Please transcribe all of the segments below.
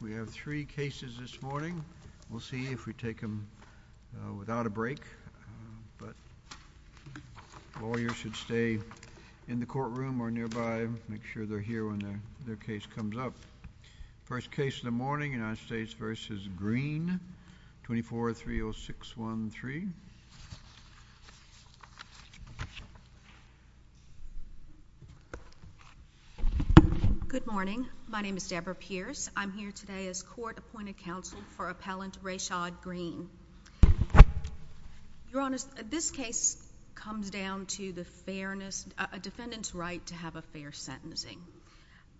We have three cases this morning. We'll see if we take them without a break, but lawyers should stay in the courtroom or nearby, make sure they're here when their case comes up. First case of the morning, United States v. Green, 24-30613. Good morning. My name is Deborah Pierce. I'm here today as court-appointed counsel for appellant Rashad Green. Your Honor, this case comes down to a defendant's right to have a fair sentencing.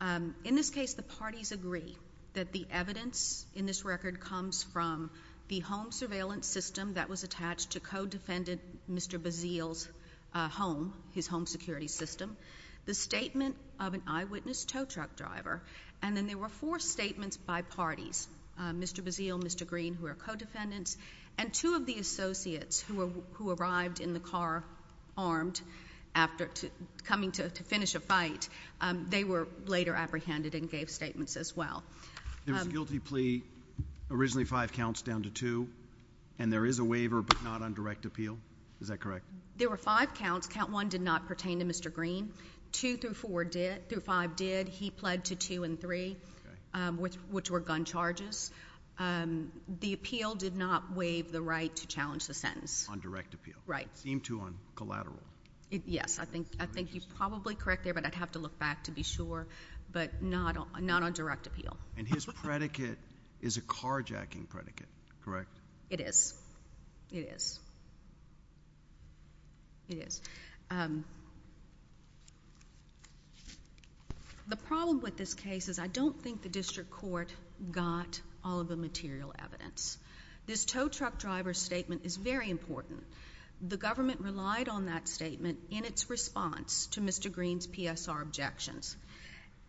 In this case, the parties agree that the evidence in this record comes from the home surveillance system that was attached to co-defendant Mr. Bazeal's home, his home security system, the statement of an eyewitness tow truck driver, and then there were four statements by parties, Mr. Bazeal, Mr. Green, who are co-defendants, and two of the associates who arrived in the car armed after coming to finish a fight. They were later apprehended and gave statements as well. There was a guilty plea, originally five counts down to two, and there is a waiver, but not on direct appeal. Is that correct? There were five counts. Count one did not pertain to Mr. Green. Two through five did. He pled to two and three, which were gun charges. The appeal did not waive the right to challenge the sentence. On direct appeal. Right. Seemed to on collateral. Yes. I think you're probably correct there, but I'd have to look back to be sure, but not on direct appeal. And his predicate is a carjacking predicate, correct? It is. It is. It is. The problem with this case is I don't think the district court got all of the material evidence. This tow truck driver statement is very important. The government relied on that statement in its response to Mr. Green's PSR objections.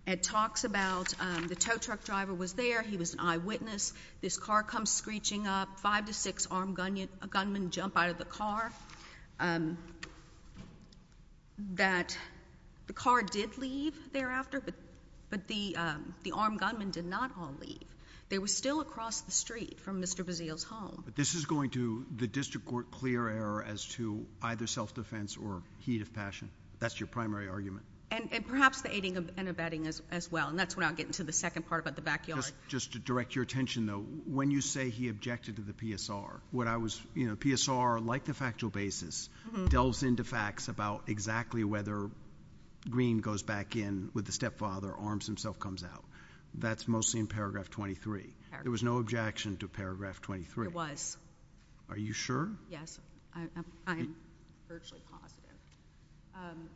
It talks about the tow truck driver was there. He was an eyewitness. This car comes screeching up. Five to six armed gunmen jump out of the car. That the car did leave thereafter, but the armed gunmen did not all leave. They were still across the street from Mr. Bazile's home. But this is going to the district court clear error as to either self-defense or heat of passion. That's your primary argument. And perhaps the aiding and abetting as well. And that's where I'll get into the second part about the backyard. Just to direct your attention, though, when you say he objected to the PSR, what I was, you know, PSR, like the factual basis, delves into facts about exactly whether Green goes back in with the stepfather, arms himself comes out. That's mostly in paragraph 23. There was no objection to paragraph 23. There was. Are you sure? Yes. I'm virtually positive.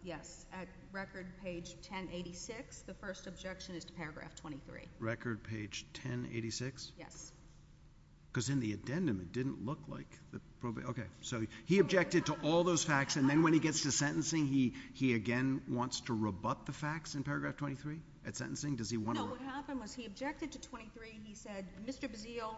Yes. At record page 1086, the first objection is to paragraph 23. Record page 1086? Yes. Because in the addendum, it didn't look like that. Okay. So he objected to all those facts. And then when he gets to sentencing, he again wants to rebut the facts in paragraph 23? At sentencing, does he want to rebut? No, what happened was he objected to 23. He said Mr. Bazile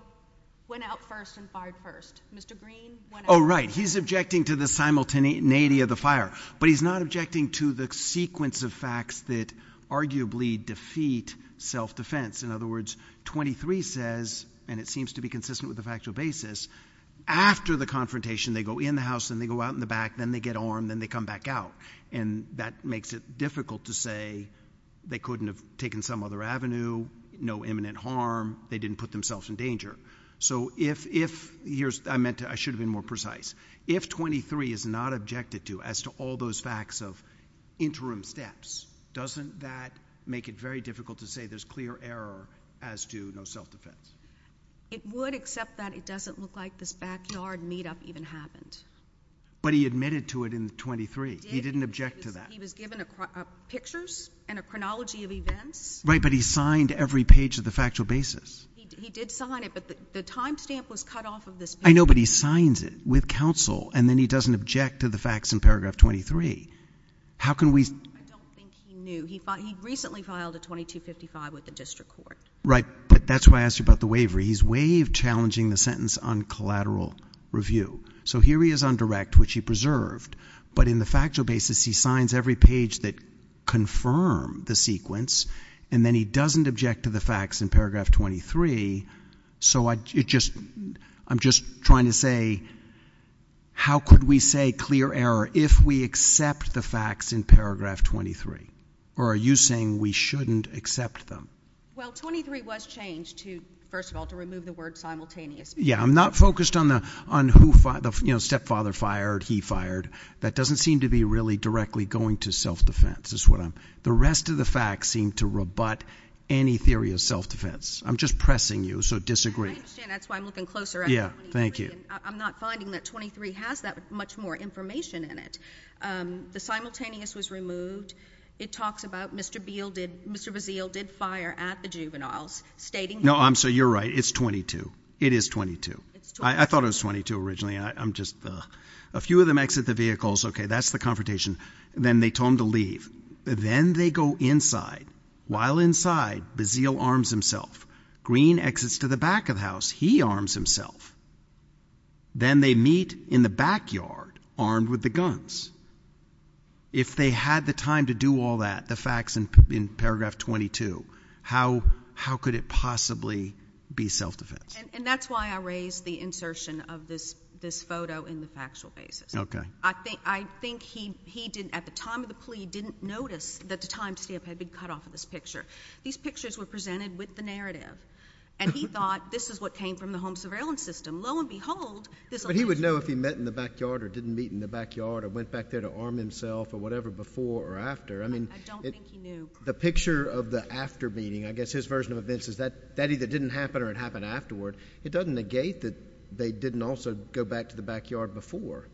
went out first and fired first. Mr. Green went out first. Oh, right. He's objecting to the simultaneity of the fire. But he's not objecting to the sequence of facts that arguably defeat self-defense. In other words, 23 says, and it seems to be consistent with the factual basis, after the confrontation, they go in the house, then they go out in the back, then they get armed, then they come back out. And that makes it difficult to say they couldn't have taken some other avenue, no imminent harm. They didn't put themselves in danger. I should have been more precise. If 23 is not objected to as to all those facts of interim steps, doesn't that make it very difficult to say there's clear error as to no self-defense? It would, except that it doesn't look like this backyard meetup even happened. But he admitted to it in 23. He didn't object to that. He was given pictures and a chronology of events. Right, but he signed every page of the factual basis. He did sign it, but the time stamp was cut off of this paper. I know, but he signs it with counsel, and then he doesn't object to the facts in paragraph 23. I don't think he knew. He recently filed a 2255 with the district court. Right, but that's why I asked you about the waiver. He's waived challenging the sentence on collateral review. So here he is on direct, which he preserved. But in the factual basis, he signs every page that confirmed the sequence, and then he doesn't object to the facts in paragraph 23. So I'm just trying to say how could we say clear error if we accept the facts in paragraph 23? Or are you saying we shouldn't accept them? Well, 23 was changed to, first of all, to remove the word simultaneous. Yeah, I'm not focused on who the stepfather fired, he fired. That doesn't seem to be really directly going to self-defense. The rest of the facts seem to rebut any theory of self-defense. I'm just pressing you, so disagree. I understand. That's why I'm looking closer at 23. Yeah, thank you. I'm not finding that 23 has that much more information in it. The simultaneous was removed. It talks about Mr. Beale did – Mr. Bazeal did fire at the juveniles, stating he – No, I'm – so you're right. It's 22. It is 22. I thought it was 22 originally. I'm just – a few of them exit the vehicles. Okay, that's the confrontation. Then they told him to leave. Then they go inside. While inside, Bazeal arms himself. Green exits to the back of the house. He arms himself. Then they meet in the backyard, armed with the guns. If they had the time to do all that, the facts in paragraph 22, how could it possibly be self-defense? And that's why I raised the insertion of this photo in the factual basis. Okay. I think he didn't, at the time of the plea, didn't notice that the time stamp had been cut off of this picture. These pictures were presented with the narrative, and he thought this is what came from the home surveillance system. Lo and behold, this – But he would know if he met in the backyard or didn't meet in the backyard or went back there to arm himself or whatever before or after. I don't think he knew. The picture of the after meeting, I guess his version of events, is that that either didn't happen or it happened afterward. It doesn't negate that they didn't also go back to the backyard before.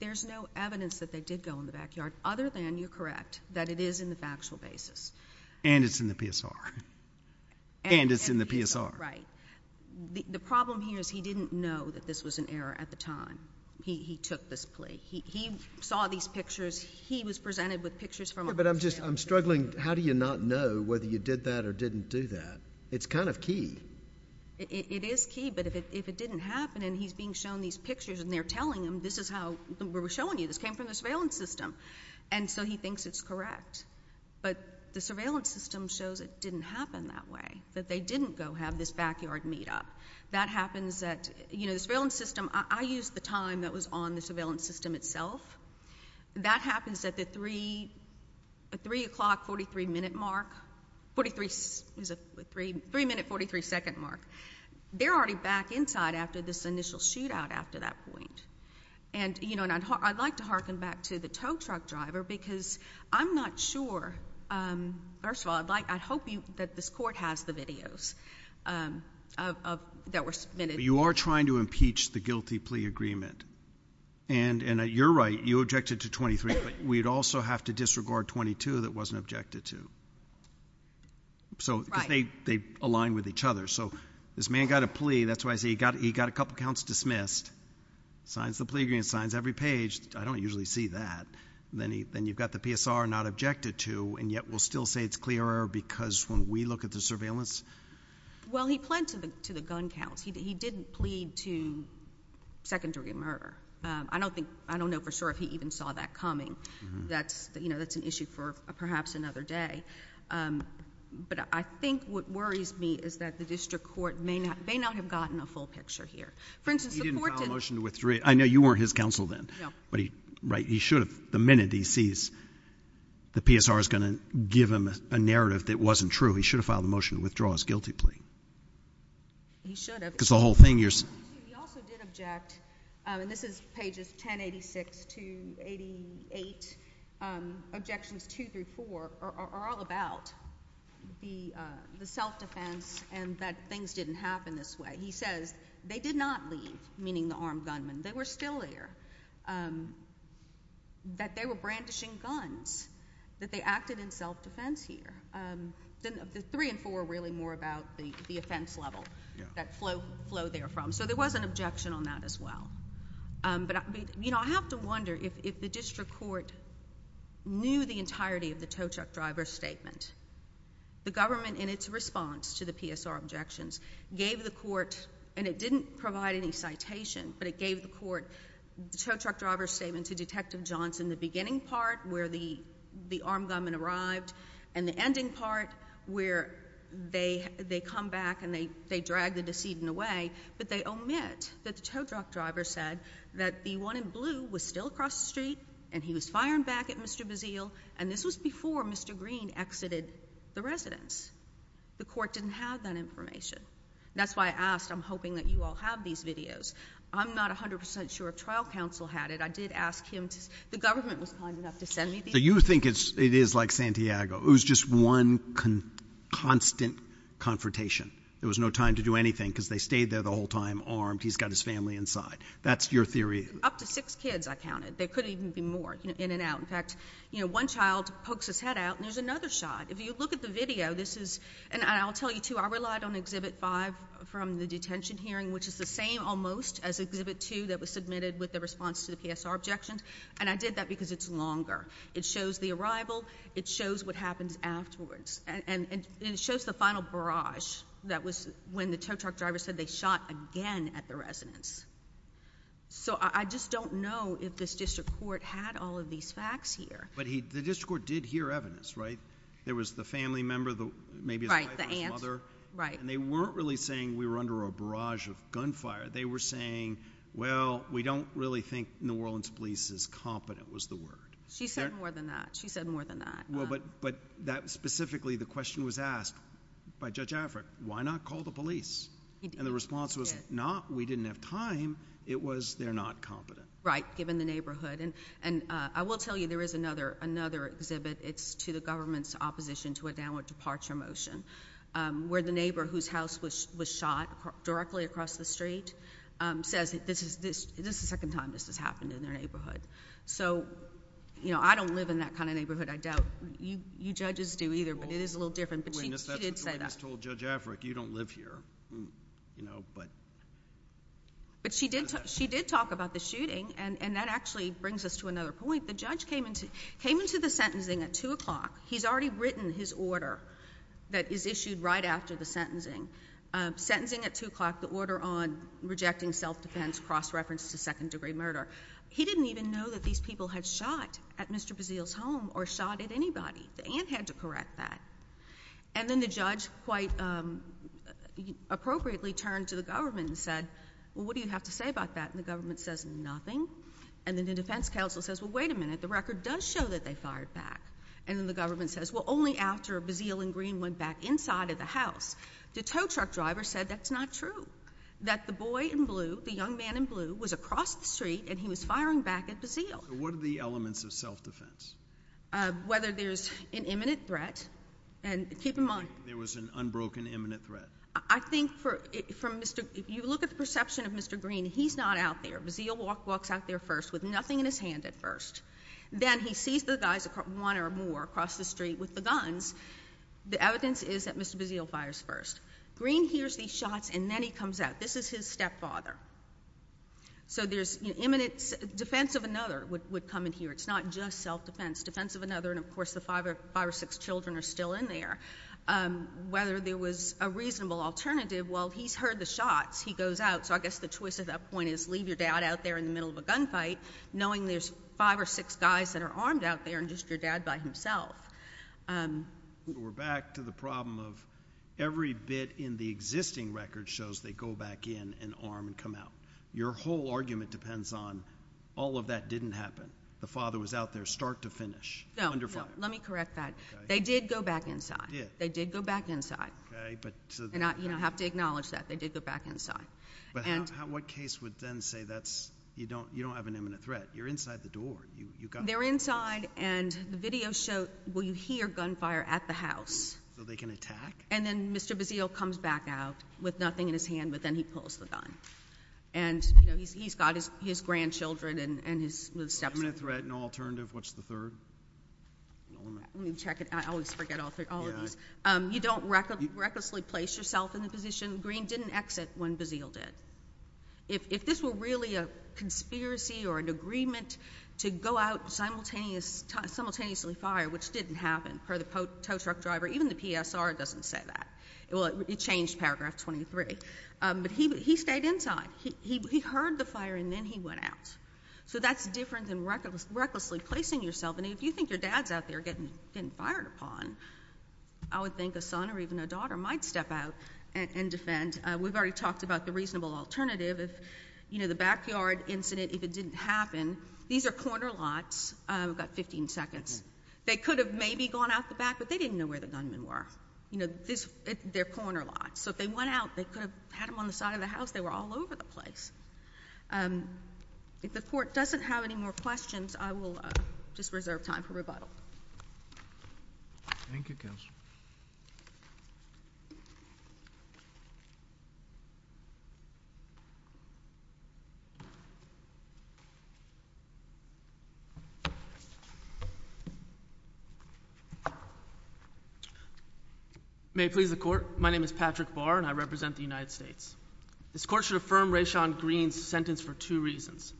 There's no evidence that they did go in the backyard other than, you're correct, that it is in the factual basis. And it's in the PSR. And it's in the PSR. Right. The problem here is he didn't know that this was an error at the time. He took this plea. He saw these pictures. He was presented with pictures from a hotel. But I'm struggling. How do you not know whether you did that or didn't do that? It's kind of key. It is key. But if it didn't happen and he's being shown these pictures and they're telling him this is how – we're showing you this came from the surveillance system. And so he thinks it's correct. But the surveillance system shows it didn't happen that way, that they didn't go have this backyard meet-up. That happens at – The surveillance system – I used the time that was on the surveillance system itself. That happens at the 3 o'clock, 43-minute mark. It was a 3-minute, 43-second mark. They're already back inside after this initial shootout after that point. And I'd like to hearken back to the tow truck driver because I'm not sure. First of all, I'd hope that this court has the videos that were submitted. You are trying to impeach the guilty plea agreement. And you're right. You objected to 23, but we'd also have to disregard 22 that wasn't objected to. Right. Because they align with each other. So this man got a plea. That's why I say he got a couple counts dismissed, signs the plea agreement, signs every page. I don't usually see that. Then you've got the PSR not objected to, and yet we'll still say it's clear error because when we look at the surveillance. Well, he pled to the gun counts. He didn't plead to secondary murder. I don't know for sure if he even saw that coming. That's an issue for perhaps another day. But I think what worries me is that the district court may not have gotten a full picture here. For instance, the court didn't. He didn't file a motion to withdraw. I know you weren't his counsel then. No. But he should have. The minute he sees the PSR is going to give him a narrative that wasn't true, he should have filed a motion to withdraw his guilty plea. He should have. Because the whole thing you're saying. He also did object, and this is pages 1086 to 88, objections 2 through 4 are all about the self-defense and that things didn't happen this way. He says they did not leave, meaning the armed gunmen. They were still there, that they were brandishing guns, that they acted in self-defense here. The 3 and 4 are really more about the offense level, that flow there from. So there was an objection on that as well. But I have to wonder if the district court knew the entirety of the tow truck driver's statement. The government in its response to the PSR objections gave the court, and it didn't provide any citation, but it gave the court the tow truck driver's statement to Detective Johnson, which was in the beginning part where the armed gunmen arrived, and the ending part where they come back and they drag the decedent away, but they omit that the tow truck driver said that the one in blue was still across the street and he was firing back at Mr. Bazille, and this was before Mr. Green exited the residence. The court didn't have that information. That's why I asked. I'm hoping that you all have these videos. I'm not 100% sure if trial counsel had it. I did ask him. The government was kind enough to send me these. So you think it is like Santiago. It was just one constant confrontation. There was no time to do anything because they stayed there the whole time armed. He's got his family inside. That's your theory. Up to six kids I counted. There could even be more in and out. In fact, one child pokes his head out and there's another shot. If you look at the video, this is, and I'll tell you too, I relied on Exhibit 5 from the detention hearing, which is the same almost as Exhibit 2 that was submitted with the response to the PSR objections, and I did that because it's longer. It shows the arrival. It shows what happens afterwards. And it shows the final barrage that was when the tow truck driver said they shot again at the residence. So I just don't know if this district court had all of these facts here. But the district court did hear evidence, right? There was the family member, maybe his wife or his mother. Right, the aunt. And they weren't really saying we were under a barrage of gunfire. They were saying, well, we don't really think New Orleans police is competent was the word. She said more than that. She said more than that. Well, but that specifically the question was asked by Judge Affred, why not call the police? And the response was not we didn't have time. It was they're not competent. Right, given the neighborhood. And I will tell you there is another exhibit. It's to the government's opposition to a downward departure motion where the neighbor whose house was shot directly across the street says this is the second time this has happened in their neighborhood. So, you know, I don't live in that kind of neighborhood. I doubt you judges do either. But it is a little different. But she did say that. That's what the witness told Judge Affred. You don't live here. You know, but. But she did talk about the shooting. And that actually brings us to another point. The judge came into the sentencing at 2 o'clock. He's already written his order that is issued right after the sentencing. Sentencing at 2 o'clock, the order on rejecting self-defense, cross-reference to second-degree murder. He didn't even know that these people had shot at Mr. Bazille's home or shot at anybody. The aunt had to correct that. And then the judge quite appropriately turned to the government and said, well, what do you have to say about that? And the government says nothing. And then the defense counsel says, well, wait a minute. The record does show that they fired back. And then the government says, well, only after Bazille and Green went back inside of the house. The tow truck driver said that's not true. That the boy in blue, the young man in blue, was across the street and he was firing back at Bazille. What are the elements of self-defense? Whether there's an imminent threat. And keep in mind. There was an unbroken, imminent threat. I think from Mr. If you look at the perception of Mr. Green, he's not out there. Bazille walks out there first with nothing in his hand at first. Then he sees the guys, one or more, across the street with the guns. The evidence is that Mr. Bazille fires first. Green hears these shots and then he comes out. This is his stepfather. So there's imminent defense of another would come in here. It's not just self-defense. Defense of another. And, of course, the five or six children are still in there. Whether there was a reasonable alternative. Well, he's heard the shots. He goes out. So I guess the twist of that point is leave your dad out there in the middle of a gunfight, knowing there's five or six guys that are armed out there and just your dad by himself. We're back to the problem of every bit in the existing record shows they go back in and arm and come out. Your whole argument depends on all of that didn't happen. The father was out there start to finish. No, no. Let me correct that. They did go back inside. They did go back inside. And I have to acknowledge that. They did go back inside. But what case would then say you don't have an imminent threat? You're inside the door. They're inside, and the video shows you hear gunfire at the house. So they can attack? And then Mr. Bazeal comes back out with nothing in his hand, but then he pulls the gun. And he's got his grandchildren and his stepsons. Imminent threat, no alternative. What's the third? Let me check it. I always forget all of these. You don't recklessly place yourself in the position. Mr. Green didn't exit when Bazeal did. If this were really a conspiracy or an agreement to go out and simultaneously fire, which didn't happen per the tow truck driver, even the PSR doesn't say that. It changed paragraph 23. But he stayed inside. He heard the fire, and then he went out. So that's different than recklessly placing yourself. And if you think your dad's out there getting fired upon, I would think a son or even a daughter might step out and defend. We've already talked about the reasonable alternative. If the backyard incident, if it didn't happen, these are corner lots. We've got 15 seconds. They could have maybe gone out the back, but they didn't know where the gunmen were. They're corner lots. So if they went out, they could have had them on the side of the house. They were all over the place. If the court doesn't have any more questions, I will just reserve time for rebuttal. Thank you, Counselor. May it please the Court. My name is Patrick Barr, and I represent the United States. This Court should affirm Rayshawn Green's sentence for two reasons.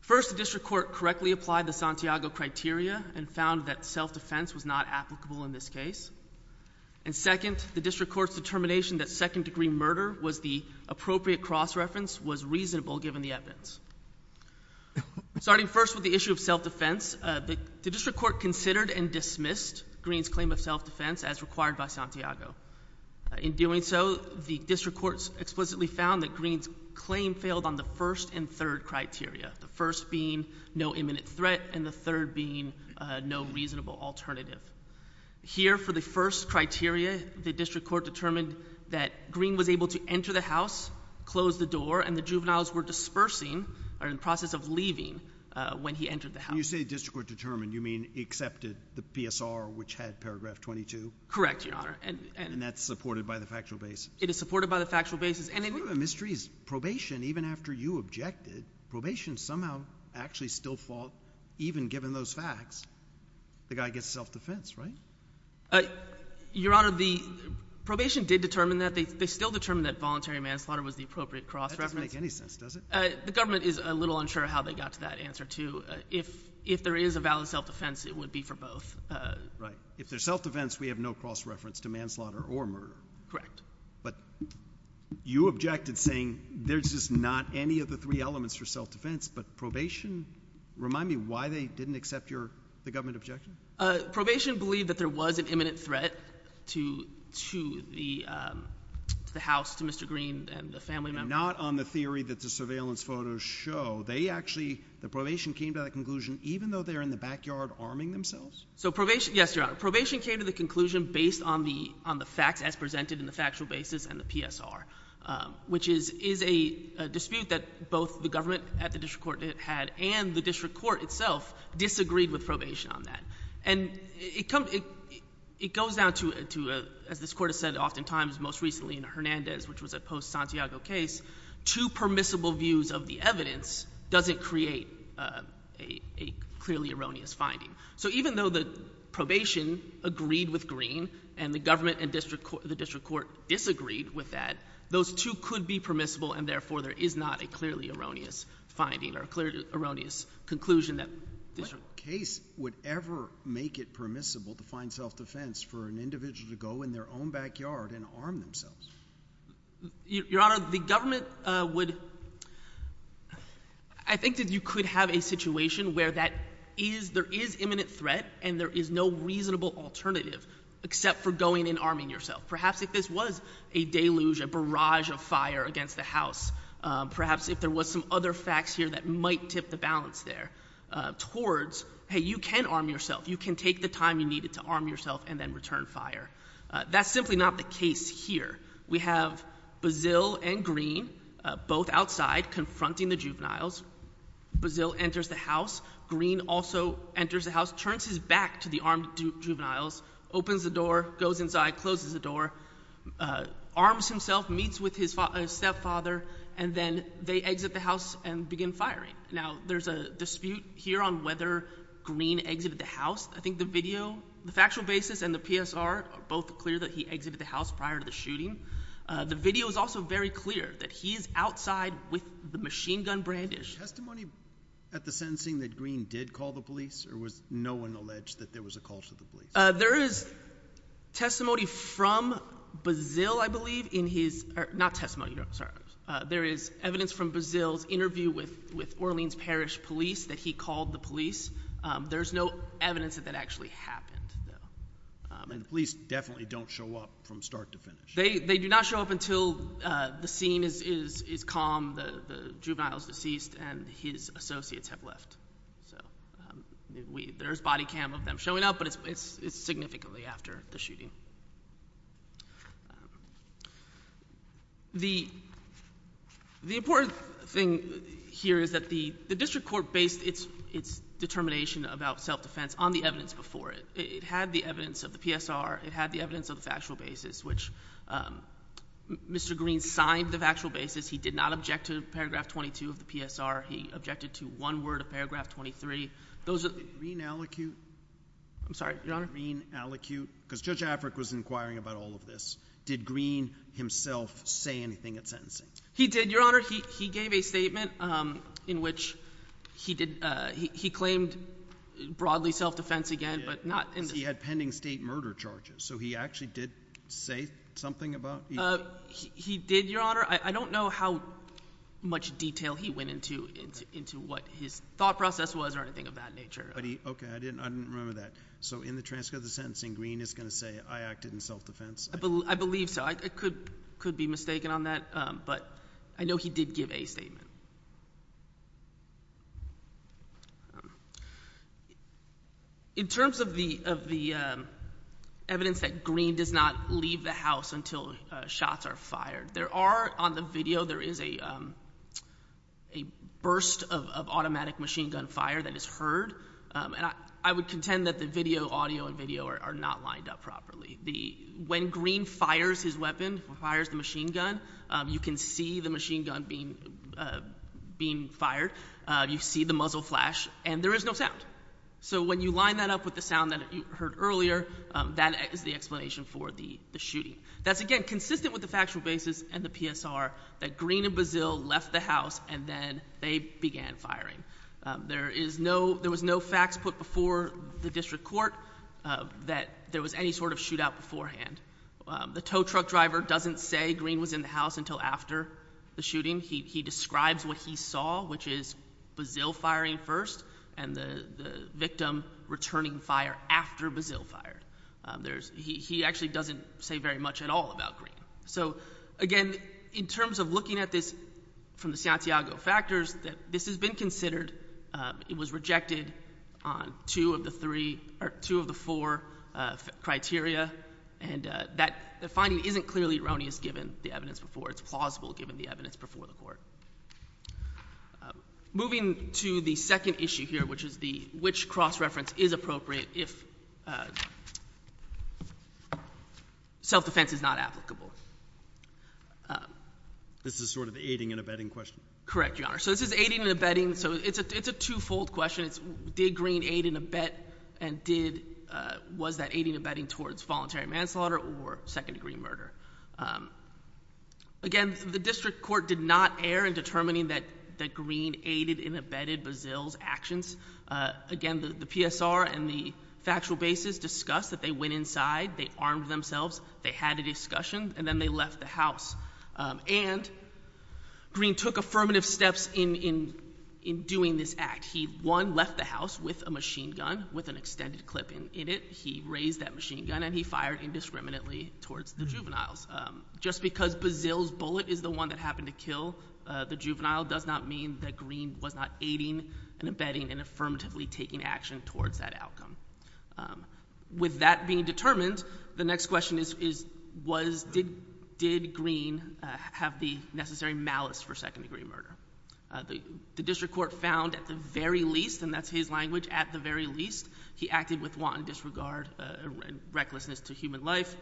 First, the District Court correctly applied the Santiago criteria and found that self-defense was not applicable in this case. And second, the District Court's determination that second-degree murder was the appropriate cross-reference was reasonable, given the evidence. Starting first with the issue of self-defense, the District Court considered and dismissed Green's claim of self-defense as required by Santiago. In doing so, the District Court explicitly found that Green's claim failed on the first and third criteria, the first being no imminent threat and the third being no reasonable alternative. Here, for the first criteria, the District Court determined that Green was able to enter the house, close the door, and the juveniles were dispersing or in the process of leaving when he entered the house. When you say the District Court determined, you mean accepted the PSR, which had paragraph 22? Correct, Your Honor. And that's supported by the factual basis? It is supported by the factual basis. The mystery is probation, even after you objected, probation somehow actually still fought, even given those facts, the guy gets self-defense, right? Your Honor, the probation did determine that. They still determined that voluntary manslaughter was the appropriate cross-reference. That doesn't make any sense, does it? The government is a little unsure how they got to that answer, too. If there is a valid self-defense, it would be for both. Right. If there's self-defense, we have no cross-reference to manslaughter or murder. Correct. But you objected saying there's just not any of the three elements for self-defense, but probation? Remind me why they didn't accept the government objection? Probation believed that there was an imminent threat to the house, to Mr. Green and the family members. Not on the theory that the surveillance photos show. They actually, the probation came to that conclusion even though they're in the backyard arming themselves? Yes, Your Honor. The probation came to the conclusion based on the facts as presented in the factual basis and the PSR, which is a dispute that both the government at the district court had and the district court itself disagreed with probation on that. And it goes down to, as this court has said oftentimes most recently in Hernandez, which was a post-Santiago case, two permissible views of the evidence doesn't create a clearly erroneous finding. So even though the probation agreed with Green and the government and the district court disagreed with that, those two could be permissible and therefore there is not a clearly erroneous finding or a clearly erroneous conclusion. What case would ever make it permissible to find self-defense for an individual to go in their own backyard and arm themselves? Your Honor, the government would, I think that you could have a situation where there is imminent threat and there is no reasonable alternative except for going and arming yourself. Perhaps if this was a deluge, a barrage of fire against the house, perhaps if there was some other facts here that might tip the balance there towards, hey, you can arm yourself. You can take the time you needed to arm yourself and then return fire. That's simply not the case here. We have Bazille and Green both outside confronting the juveniles. Bazille enters the house. Green also enters the house, turns his back to the armed juveniles, opens the door, goes inside, closes the door, arms himself, meets with his stepfather, and then they exit the house and begin firing. Now, there's a dispute here on whether Green exited the house. I think the video, the factual basis and the PSR are both clear that he exited the house prior to the shooting. The video is also very clear that he is outside with the machine gun brandish. Testimony at the sentencing that Green did call the police or was no one alleged that there was a call to the police? There is evidence from Bazille's interview with Orleans Parish police that he called the police. There's no evidence that that actually happened. The police definitely don't show up from start to finish? They do not show up until the scene is calm, the juvenile is deceased, and his associates have left. There's body cam of them showing up, but it's significantly after the shooting. The important thing here is that the district court based its determination about self-defense on the evidence before it. It had the evidence of the PSR. It had the evidence of the factual basis, which Mr. Green signed the factual basis. He did not object to paragraph 22 of the PSR. He objected to one word of paragraph 23. Did Green allocute? I'm sorry, Your Honor? Did Green allocate? Because Judge Afric was inquiring about all of this. Did Green himself say anything at sentencing? He did, Your Honor. He gave a statement in which he claimed broadly self-defense again, because he had pending state murder charges. So he actually did say something about it? He did, Your Honor. I don't know how much detail he went into, what his thought process was or anything of that nature. Okay, I didn't remember that. So in the transcript of the sentencing, Green is going to say, I acted in self-defense? I believe so. I could be mistaken on that, but I know he did give a statement. In terms of the evidence that Green does not leave the house until shots are fired, there are on the video, there is a burst of automatic machine gun fire that is heard. And I would contend that the video, audio and video are not lined up properly. When Green fires his weapon, fires the machine gun, you can see the machine gun being fired. You see the muzzle flash, and there is no sound. So when you line that up with the sound that you heard earlier, that is the explanation for the shooting. That's, again, consistent with the factual basis and the PSR that Green and Bazille left the house and then they began firing. There was no facts put before the district court that there was any sort of shootout beforehand. The tow truck driver doesn't say Green was in the house until after the shooting. He describes what he saw, which is Bazille firing first and the victim returning fire after Bazille fired. He actually doesn't say very much at all about Green. So, again, in terms of looking at this from the Santiago factors, this has been considered. It was rejected on two of the four criteria, and the finding isn't clearly erroneous given the evidence before. Moving to the second issue here, which is which cross-reference is appropriate if self-defense is not applicable. This is sort of an aiding and abetting question. Correct, Your Honor. So this is aiding and abetting. So it's a two-fold question. Did Green aid and abet and was that aiding and abetting towards voluntary manslaughter or second-degree murder? Again, the district court did not err in determining that Green aided and abetted Bazille's actions. Again, the PSR and the factual basis discussed that they went inside, they armed themselves, they had a discussion, and then they left the house. And Green took affirmative steps in doing this act. He, one, left the house with a machine gun with an extended clip in it. He raised that machine gun and he fired indiscriminately towards the juveniles. Just because Bazille's bullet is the one that happened to kill the juvenile does not mean that Green was not aiding and abetting and affirmatively taking action towards that outcome. With that being determined, the next question is did Green have the necessary malice for second-degree murder? The district court found at the very least, and that's his language, he acted with wanton disregard and recklessness to human life,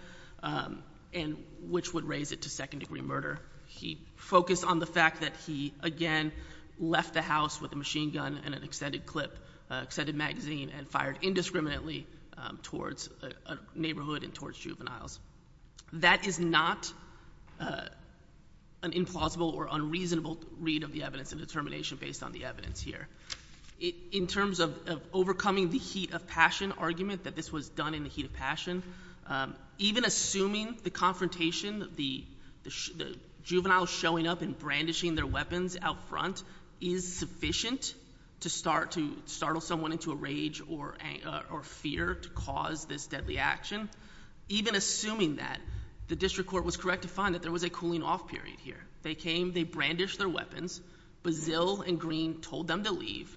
which would raise it to second-degree murder. He focused on the fact that he, again, left the house with a machine gun and an extended clip, extended magazine, and fired indiscriminately towards a neighborhood and towards juveniles. That is not an implausible or unreasonable read of the evidence and determination based on the evidence here. In terms of overcoming the heat of passion argument that this was done in the heat of passion, even assuming the confrontation, the juveniles showing up and brandishing their weapons out front is sufficient to startle someone into a rage or fear to cause this deadly action. Even assuming that, the district court was correct to find that there was a cooling-off period here. They came, they brandished their weapons. Bazil and Green told them to leave,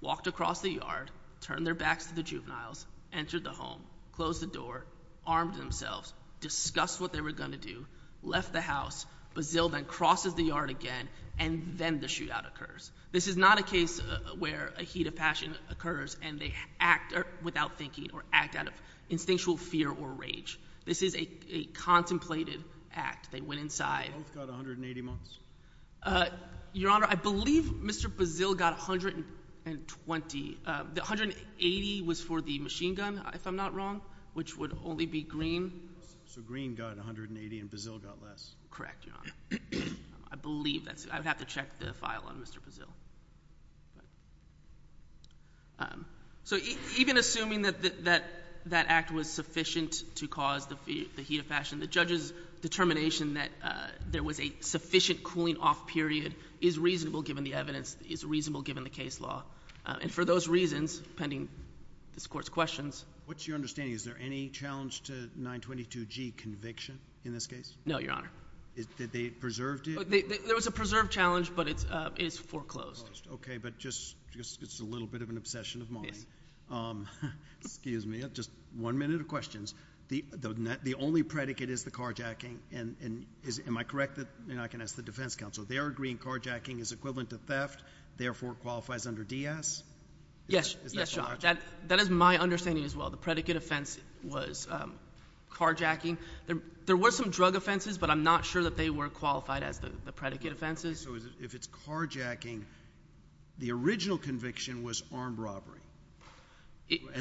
walked across the yard, turned their backs to the juveniles, entered the home, closed the door, armed themselves, discussed what they were going to do, left the house. Bazil then crosses the yard again, and then the shootout occurs. This is not a case where a heat of passion occurs and they act without thinking or act out of instinctual fear or rage. This is a contemplated act. They went inside. Both got 180 months? Your Honor, I believe Mr. Bazil got 120. The 180 was for the machine gun, if I'm not wrong, which would only be Green. So Green got 180 and Bazil got less? Correct, Your Honor. I believe that's it. I would have to check the file on Mr. Bazil. So even assuming that that act was sufficient to cause the heat of passion, the judge's determination that there was a sufficient cooling-off period is reasonable given the evidence, is reasonable given the case law. And for those reasons, pending this Court's questions. What's your understanding? Is there any challenge to 922G conviction in this case? No, Your Honor. Did they preserve it? There was a preserved challenge, but it is foreclosed. Okay, but it's just a little bit of an obsession of mine. Excuse me. Just one minute of questions. The only predicate is the carjacking. Am I correct? I can ask the defense counsel. They are agreeing carjacking is equivalent to theft, therefore it qualifies under DS? Yes, Your Honor. That is my understanding as well. The predicate offense was carjacking. There were some drug offenses, but I'm not sure that they were qualified as the predicate offenses. So if it's carjacking, the original conviction was armed robbery.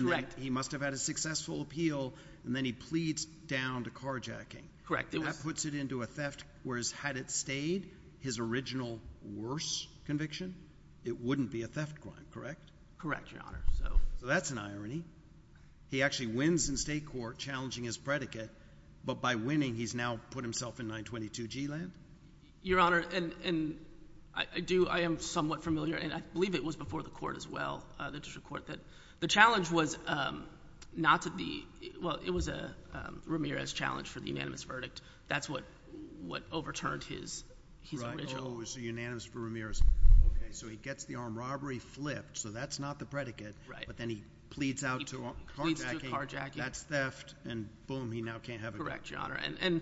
Correct. He must have had a successful appeal, and then he pleads down to carjacking. That puts it into a theft. Whereas had it stayed, his original worse conviction, it wouldn't be a theft crime, correct? Correct, Your Honor. So that's an irony. He actually wins in state court challenging his predicate, but by winning he's now put himself in 922G land? Your Honor, and I am somewhat familiar, and I believe it was before the court as well, the district court, that the challenge was not to be – well, it was Ramirez's challenge for the unanimous verdict. That's what overturned his original. Oh, so unanimous for Ramirez. Okay, so he gets the armed robbery flipped, so that's not the predicate, but then he pleads out to carjacking. That's theft, and boom, he now can't have it. Correct, Your Honor. And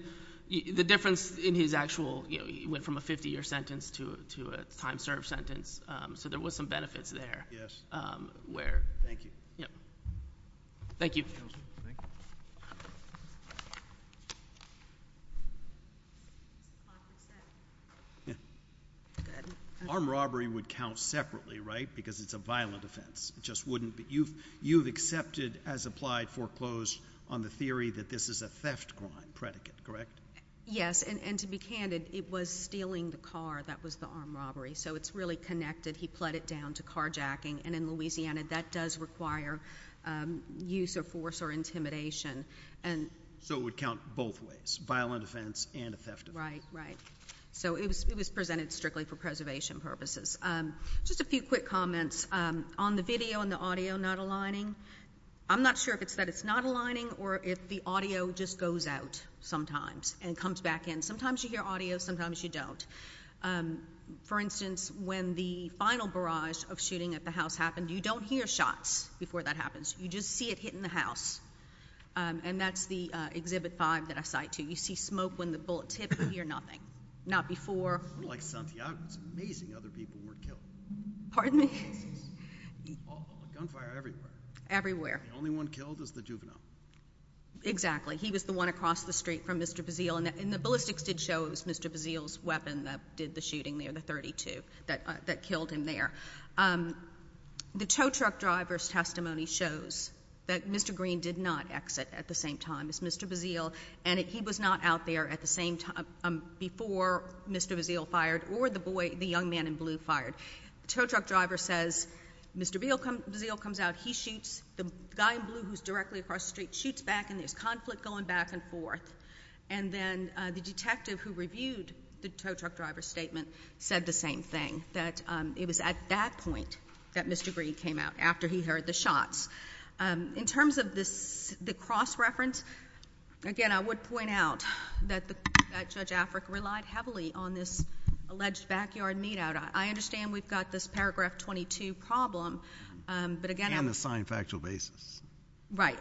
the difference in his actual – he went from a 50-year sentence to a time-served sentence, so there was some benefits there. Thank you. Thank you. Armed robbery would count separately, right? Because it's a violent offense. It just wouldn't be – you've accepted as applied foreclosed on the theory that this is a theft crime predicate, correct? Yes, and to be candid, it was stealing the car that was the armed robbery, so it's really connected. He pled it down to carjacking, and in Louisiana, that does require use of force or intimidation. So it would count both ways, violent offense and a theft offense. Right, right. So it was presented strictly for preservation purposes. Just a few quick comments. On the video and the audio not aligning, I'm not sure if it's that it's not aligning or if the audio just goes out sometimes and comes back in. Sometimes you hear audio, sometimes you don't. For instance, when the final barrage of shooting at the house happened, you don't hear shots before that happens. You just see it hitting the house. And that's the Exhibit 5 that I cite, too. You see smoke when the bullets hit, you hear nothing. Not before. Unlike Santiago, it's amazing other people weren't killed. Pardon me? Gunfire everywhere. Everywhere. The only one killed was the juvenile. Exactly. He was the one across the street from Mr. Bazile, and the ballistics did show it was Mr. Bazile's weapon that did the shooting there, the .32, that killed him there. The tow truck driver's testimony shows that Mr. Green did not exit at the same time as Mr. Bazile, and he was not out there at the same time before Mr. Bazile fired or the young man in blue fired. The tow truck driver says, Mr. Bazile comes out, he shoots, the guy in blue who's directly across the street shoots back, and there's conflict going back and forth. And then the detective who reviewed the tow truck driver's statement said the same thing, that it was at that point that Mr. Green came out, after he heard the shots. In terms of the cross-reference, again, I would point out that Judge Afric relied heavily on this alleged backyard meet-out. I understand we've got this Paragraph 22 problem, but again, I'm And the signed factual basis. Right,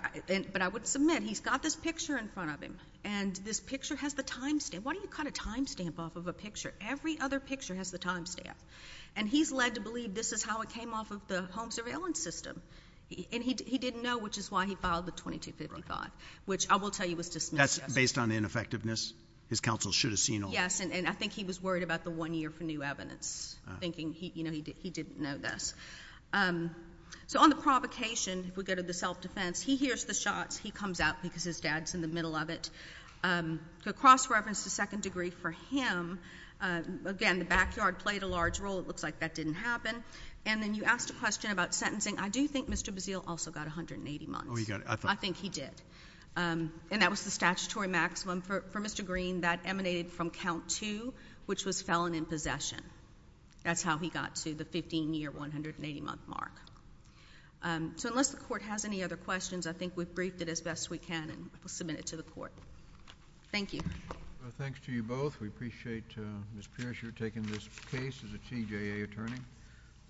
but I would submit he's got this picture in front of him, and this picture has the time stamp. Why do you cut a time stamp off of a picture? Every other picture has the time stamp. And he's led to believe this is how it came off of the home surveillance system. And he didn't know, which is why he filed the 2255, which I will tell you was dismissed. That's based on ineffectiveness? His counsel should have seen all of it. Yes, and I think he was worried about the one year for new evidence, thinking he didn't know this. So on the provocation, if we go to the self-defense, he hears the shots, he comes out because his dad's in the middle of it. The cross-reference to second degree for him, again, the backyard played a large role. It looks like that didn't happen. And then you asked a question about sentencing. I do think Mr. Bazeal also got 180 months. I think he did. And that was the statutory maximum for Mr. Green. That emanated from count two, which was felon in possession. That's how he got to the 15-year, 180-month mark. So unless the Court has any other questions, I think we've briefed it as best we can and will submit it to the Court. Thank you. Thanks to you both. We appreciate, Ms. Pierce, your taking this case as a TJA attorney.